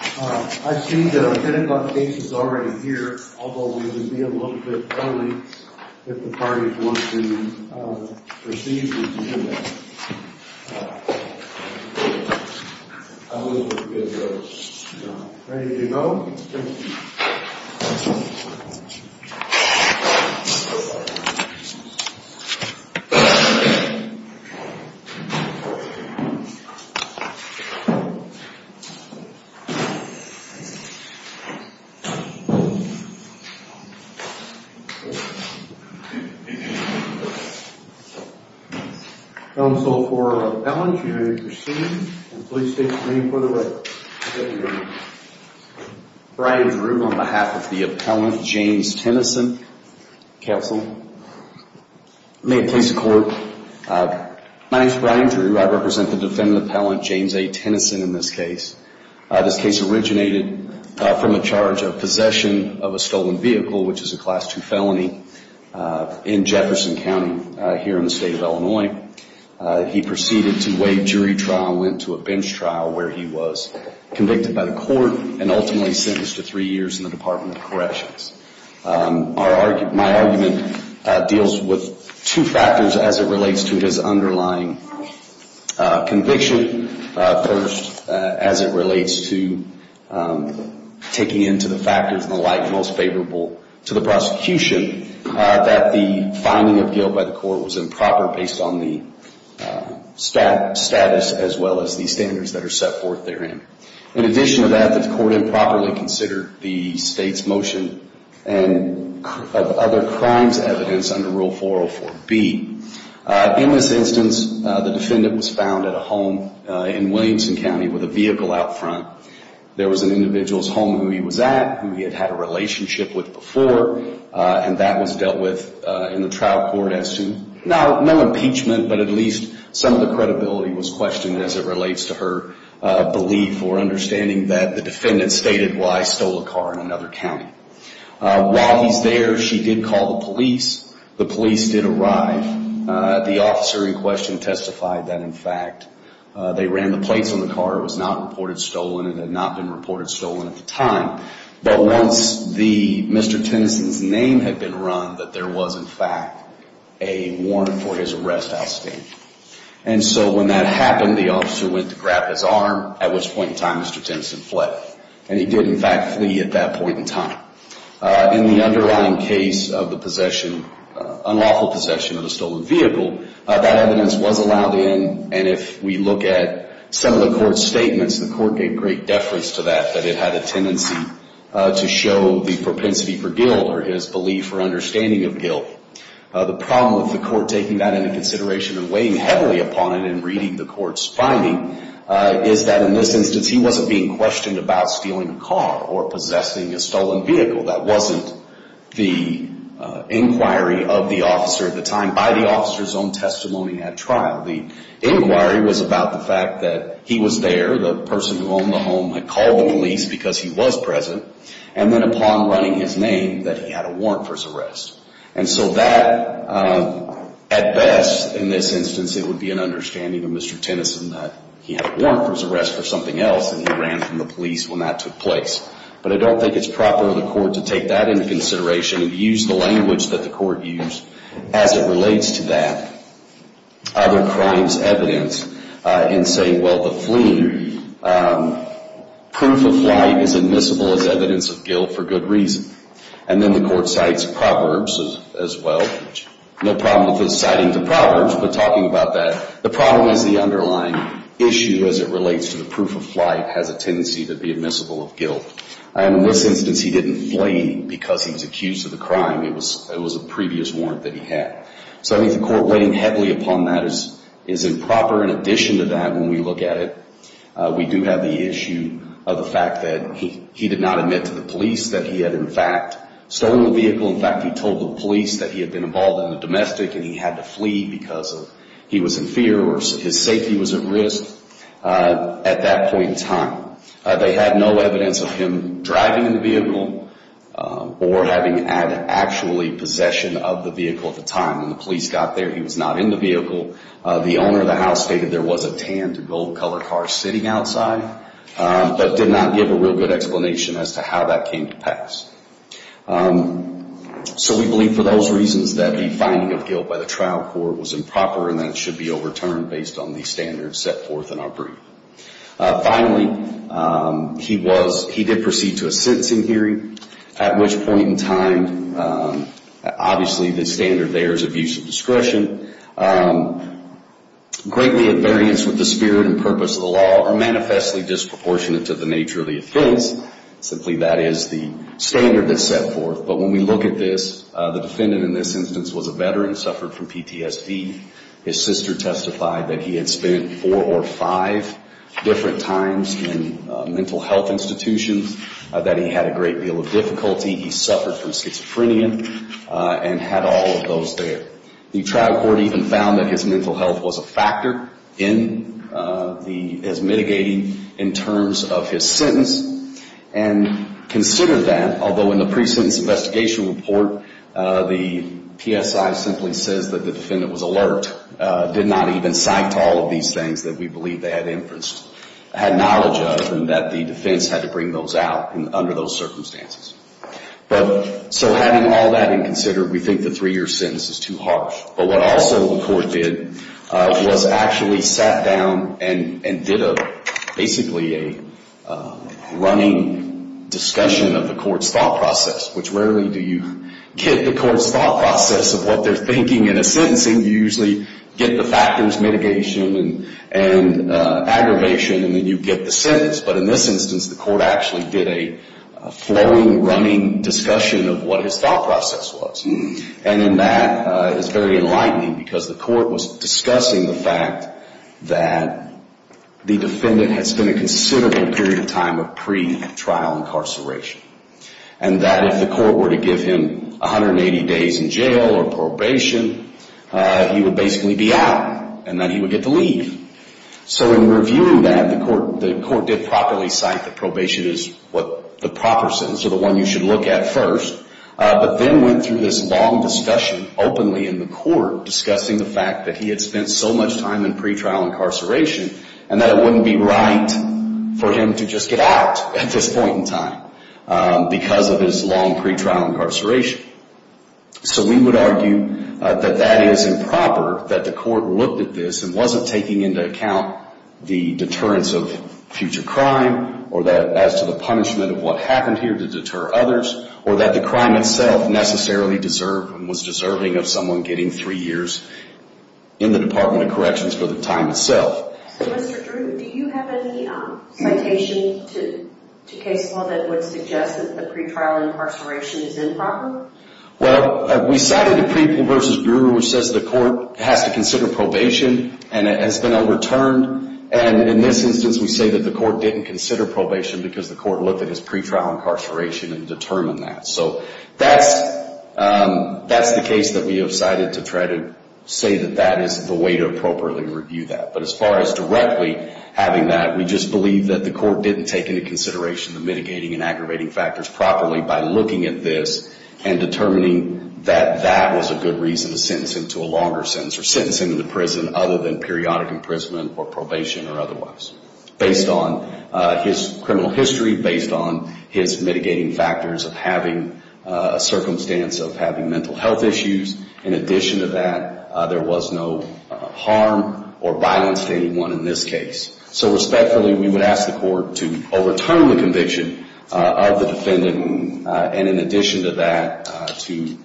I see that Lieutenant Buck Bates is already here, although we would be a little bit early if the party wants to proceed with the hearing. I will get ready to go. Brian Drew on behalf of the appellant, James Tennyson, counsel. May it please the court. My name is Brian Drew. I represent the defendant appellant, James A. Tennyson, in this case. This case originated from a charge of possession of a stolen vehicle, which is a Class II felony in Jefferson County here in the state of Illinois. He proceeded to waive jury trial and went to a bench trial where he was convicted by the court and ultimately sentenced to three years in the Department of Corrections. My argument deals with two factors as it relates to his underlying conviction. First, as it relates to taking into the factors and the like most favorable to the prosecution, that the finding of guilt by the court was improper based on the status as well as the standards that are set forth therein. In addition to that, the court improperly considered the state's motion of other crimes evidence under Rule 404B. In this instance, the defendant was found at a home in Williamson County with a vehicle out front. There was an individual's home who he was at, who he had had a relationship with before, and that was dealt with in the trial court as to no impeachment, but at least some of the credibility was questioned as it relates to her belief or understanding that the defendant stated, well, I stole a car in another county. While he's there, she did call the police. The police did arrive. The officer in question testified that, in fact, they ran the plates on the car. It was not reported stolen. It had not been reported stolen at the time. But once Mr. Tennyson's name had been run, that there was, in fact, a warrant for his arrest outstanding. And so when that happened, the officer went to grab his arm, at which point in time Mr. Tennyson fled. And he did, in fact, flee at that point in time. In the underlying case of the possession, unlawful possession of a stolen vehicle, that evidence was allowed in, and if we look at some of the court's statements, the court gave great deference to that, that it had a tendency to show the propensity for guilt or his belief or understanding of guilt. The problem with the court taking that into consideration and weighing heavily upon it in reading the court's finding is that, in this instance, he wasn't being questioned about stealing a car or possessing a stolen vehicle. That wasn't the inquiry of the officer at the time by the officer's own testimony at trial. The inquiry was about the fact that he was there, the person who owned the home had called the police because he was present, and then upon running his name, that he had a warrant for his arrest. And so that, at best, in this instance, it would be an understanding of Mr. Tennyson that he had a warrant for his arrest for something else, and he ran from the police when that took place. But I don't think it's proper of the court to take that into consideration and use the language that the court used as it relates to that. Other crimes evidence in saying, well, the fleeing proof of flight is admissible as evidence of guilt for good reason. And then the court cites proverbs as well. No problem with citing the proverbs, but talking about that. The problem is the underlying issue as it relates to the proof of flight has a tendency to be admissible of guilt. And in this instance, he didn't flee because he was accused of the crime. It was a previous warrant that he had. So I think the court weighing heavily upon that is improper. In addition to that, when we look at it, we do have the issue of the fact that he did not admit to the police that he had, in fact, stolen the vehicle. In fact, he told the police that he had been involved in a domestic and he had to flee because he was in fear or his safety was at risk at that point in time. They had no evidence of him driving the vehicle or having had actually possession of the vehicle at the time. When the police got there, he was not in the vehicle. The owner of the house stated there was a tan to gold colored car sitting outside, but did not give a real good explanation as to how that came to pass. So we believe for those reasons that the finding of guilt by the trial court was improper and that it should be overturned based on the standards set forth in our brief. Finally, he did proceed to a sentencing hearing, at which point in time, obviously the standard there is abuse of discretion. Greatly at variance with the spirit and purpose of the law are manifestly disproportionate to the nature of the offense. Simply that is the standard that's set forth. But when we look at this, the defendant in this instance was a veteran, suffered from PTSD. His sister testified that he had spent four or five different times in mental health institutions, that he had a great deal of difficulty. He suffered from schizophrenia and had all of those there. The trial court even found that his mental health was a factor in his mitigating in terms of his sentence. And considered that, although in the pre-sentence investigation report, the PSI simply says that the defendant was alert, did not even cite all of these things that we believe they had inference, had knowledge of, and that the defense had to bring those out under those circumstances. But so having all that in consider, we think the three-year sentence is too harsh. But what also the court did was actually sat down and did basically a running discussion of the court's thought process, which rarely do you get the court's thought process of what they're thinking in a sentencing. You usually get the factors, mitigation and aggravation, and then you get the sentence. But in this instance, the court actually did a flowing, running discussion of what his thought process was. And in that, it's very enlightening because the court was discussing the fact that the defendant had spent a considerable period of time of pre-trial incarceration. And that if the court were to give him 180 days in jail or probation, he would basically be out, and then he would get to leave. So in reviewing that, the court did properly cite that probation is what the proper sentence or the one you should look at first. But then went through this long discussion openly in the court discussing the fact that he had spent so much time in pre-trial incarceration and that it wouldn't be right for him to just get out at this point in time because of his long pre-trial incarceration. So we would argue that that is improper, that the court looked at this and wasn't taking into account the deterrence of future crime or that as to the punishment of what happened here to deter others, or that the crime itself necessarily deserved and was deserving of someone getting three years in the Department of Corrections for the time itself. So Mr. Drew, do you have any citation to case law that would suggest that the pre-trial incarceration is improper? Well, we cited the pre-versus-due, which says the court has to consider probation and has been overturned. And in this instance, we say that the court didn't consider probation because the court looked at his pre-trial incarceration and determined that. So that's the case that we have cited to try to say that that is the way to appropriately review that. But as far as directly having that, we just believe that the court didn't take into consideration the mitigating and aggravating factors properly by looking at this and determining that that was a good reason to sentence him to a longer sentence or sentence him to prison other than periodic imprisonment or probation or otherwise. Based on his criminal history, based on his mitigating factors of having a circumstance of having mental health issues, in addition to that, there was no harm or violence to anyone in this case. So respectfully, we would ask the court to overturn the conviction of the defendant. And in addition to that, to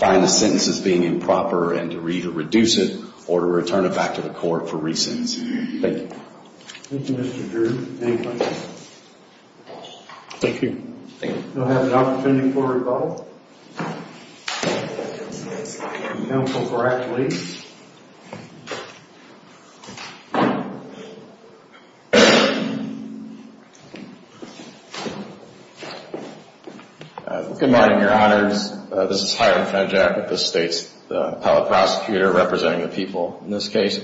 find the sentences being improper and to either reduce it or to return it back to the court for re-sentencing. Thank you. Thank you, Mr. Drew. Any questions? Thank you. Thank you. We'll have an opportunity for a rebuttal. Counsel, correct please. Good morning, Your Honors. This is Hiram Fenjack with the State's Appellate Prosecutor representing the people in this case.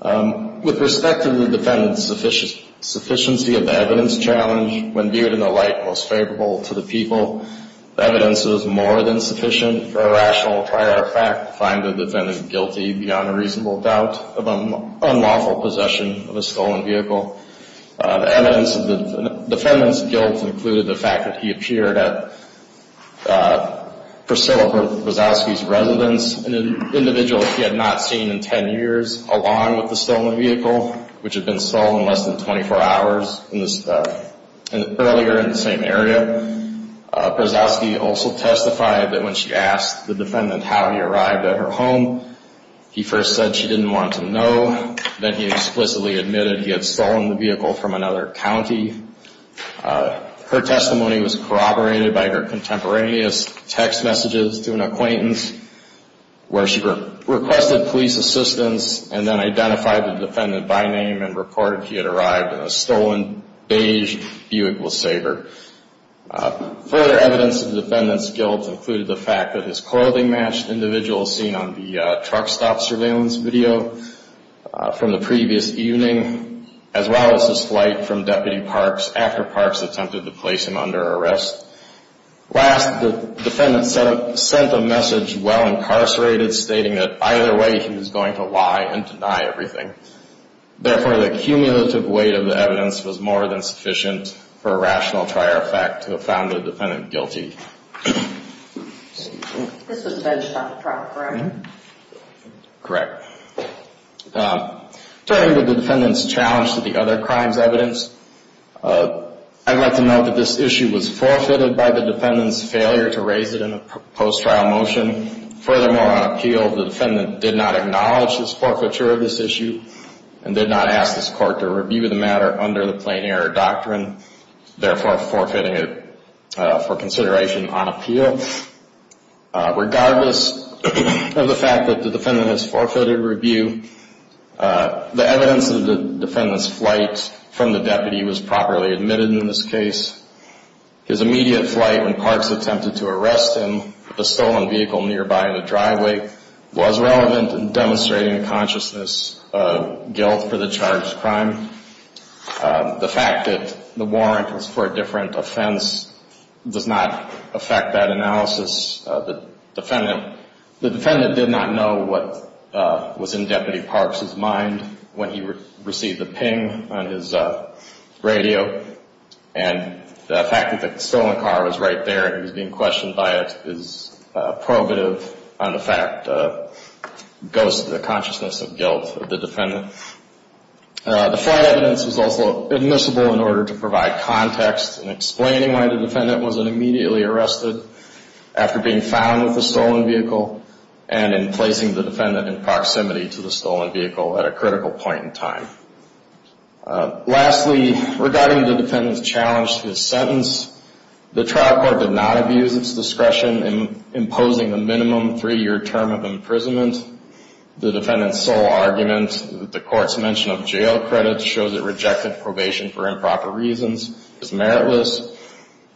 With respect to the defendant's sufficiency of the evidence challenge, when viewed in the light most favorable to the people, the evidence was more than sufficient for a rational prior fact to find the defendant guilty beyond a reasonable doubt of unlawful possession of a stolen vehicle. The evidence of the defendant's guilt included the fact that he appeared at Priscilla Wazowski's residence, an individual he had not seen in 10 years, along with the stolen vehicle, which had been stolen less than 24 hours earlier in the same area. Wazowski also testified that when she asked the defendant how he arrived at her home, he first said she didn't want to know. Then he explicitly admitted he had stolen the vehicle from another county. Her testimony was corroborated by her contemporaneous text messages to an acquaintance where she requested police assistance and then identified the defendant by name and reported he had arrived in a stolen beige Buick LeSabre. Further evidence of the defendant's guilt included the fact that his clothing matched individuals seen on the truck stop surveillance video from the previous evening, as well as his flight from Deputy Parks after Parks attempted to place him under arrest. Last, the defendant sent a message while incarcerated stating that either way he was going to lie and deny everything. Therefore, the cumulative weight of the evidence was more than sufficient for a rational prior fact to have found the defendant guilty. This was benched on the trial, correct? Correct. Turning to the defendant's challenge to the other crime's evidence, I'd like to note that this issue was forfeited by the defendant's failure to raise it in a post-trial motion. Furthermore, on appeal, the defendant did not acknowledge this forfeiture of this issue and did not ask this court to review the matter under the plain error doctrine, therefore forfeiting it for consideration on appeal. Regardless of the fact that the defendant has forfeited review, the evidence of the defendant's flight from the deputy was properly admitted in this case. His immediate flight when Parks attempted to arrest him with a stolen vehicle nearby in the driveway was relevant in demonstrating a consciousness of guilt for the charged crime. The fact that the warrant was for a different offense does not affect that analysis. The defendant did not know what was in Deputy Parks' mind when he received the ping on his radio and the fact that the stolen car was right there and he was being questioned by it is probative on the fact that it goes to the consciousness of guilt of the defendant. The flight evidence was also admissible in order to provide context in explaining why the defendant wasn't immediately arrested after being found with the stolen vehicle and in placing the defendant in proximity to the stolen vehicle at a critical point in time. Lastly, regarding the defendant's challenge to his sentence, the trial court did not abuse its discretion in imposing a minimum three-year term of imprisonment. The defendant's sole argument that the court's mention of jail credits shows it rejected probation for improper reasons is meritless.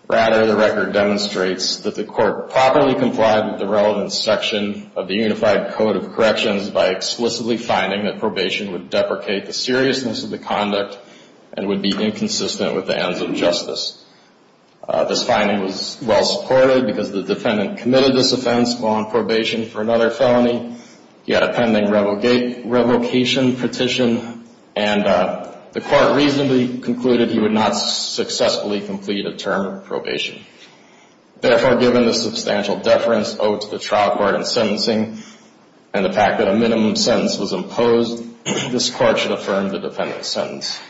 Rather, the record demonstrates that the court properly complied with the relevant section of the Unified Code of Corrections by explicitly finding that probation would deprecate the seriousness of the conduct and would be inconsistent with the ends of justice. This finding was well supported because the defendant committed this offense while on probation for another felony. He had a pending revocation petition and the court reasonably concluded he would not successfully complete a term of probation. Therefore, given the substantial deference owed to the trial court in sentencing and the fact that a minimum sentence was imposed, this court should affirm the defendant's sentence.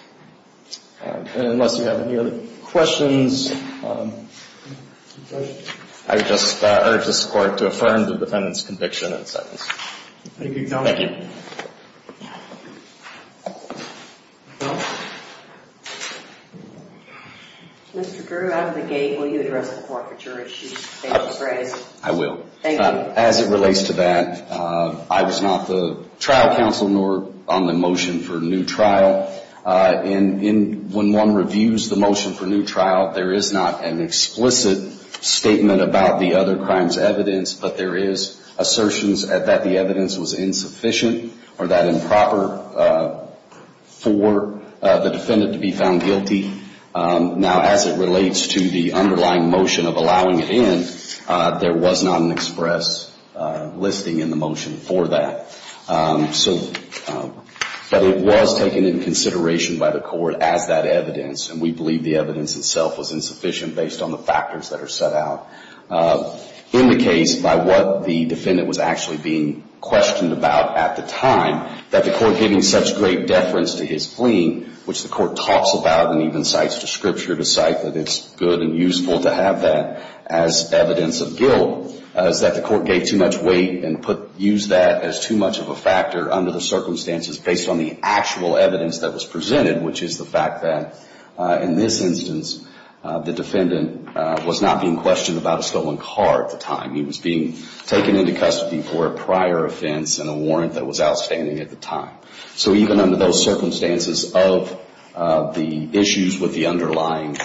And unless you have any other questions, I would just urge this court to affirm the defendant's conviction and sentence. Thank you. Mr. Drew, out of the gate, will you address the court for jury issues? I will. Thank you. As it relates to that, I was not the trial counsel nor on the motion for new trial. When one reviews the motion for new trial, there is not an explicit statement about the other crime's evidence, but there is assertions that the evidence was insufficient or that improper for the defendant to be found guilty. Now, as it relates to the underlying motion of allowing it in, there was not an express listing in the motion for that. But it was taken into consideration by the court as that evidence, and we believe the evidence itself was insufficient based on the factors that are set out. In the case, by what the defendant was actually being questioned about at the time, that the court gave him such great deference to his plea, which the court talks about and even cites to scripture to cite that it's good and useful to have that as evidence of guilt, is that the court gave too much weight and used that as too much of a factor under the circumstances based on the actual evidence that was presented, which is the fact that in this instance, the defendant was not being questioned about a stolen car at the time. He was being taken into custody for a prior offense and a warrant that was outstanding at the time. So even under those circumstances of the issues with the underlying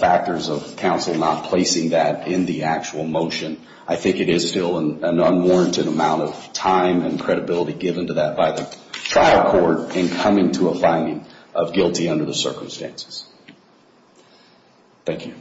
factors of counsel and not placing that in the actual motion, I think it is still an unwarranted amount of time and credibility given to that by the trial court in coming to a finding of guilty under the circumstances. Thank you. Thank you. Thank you.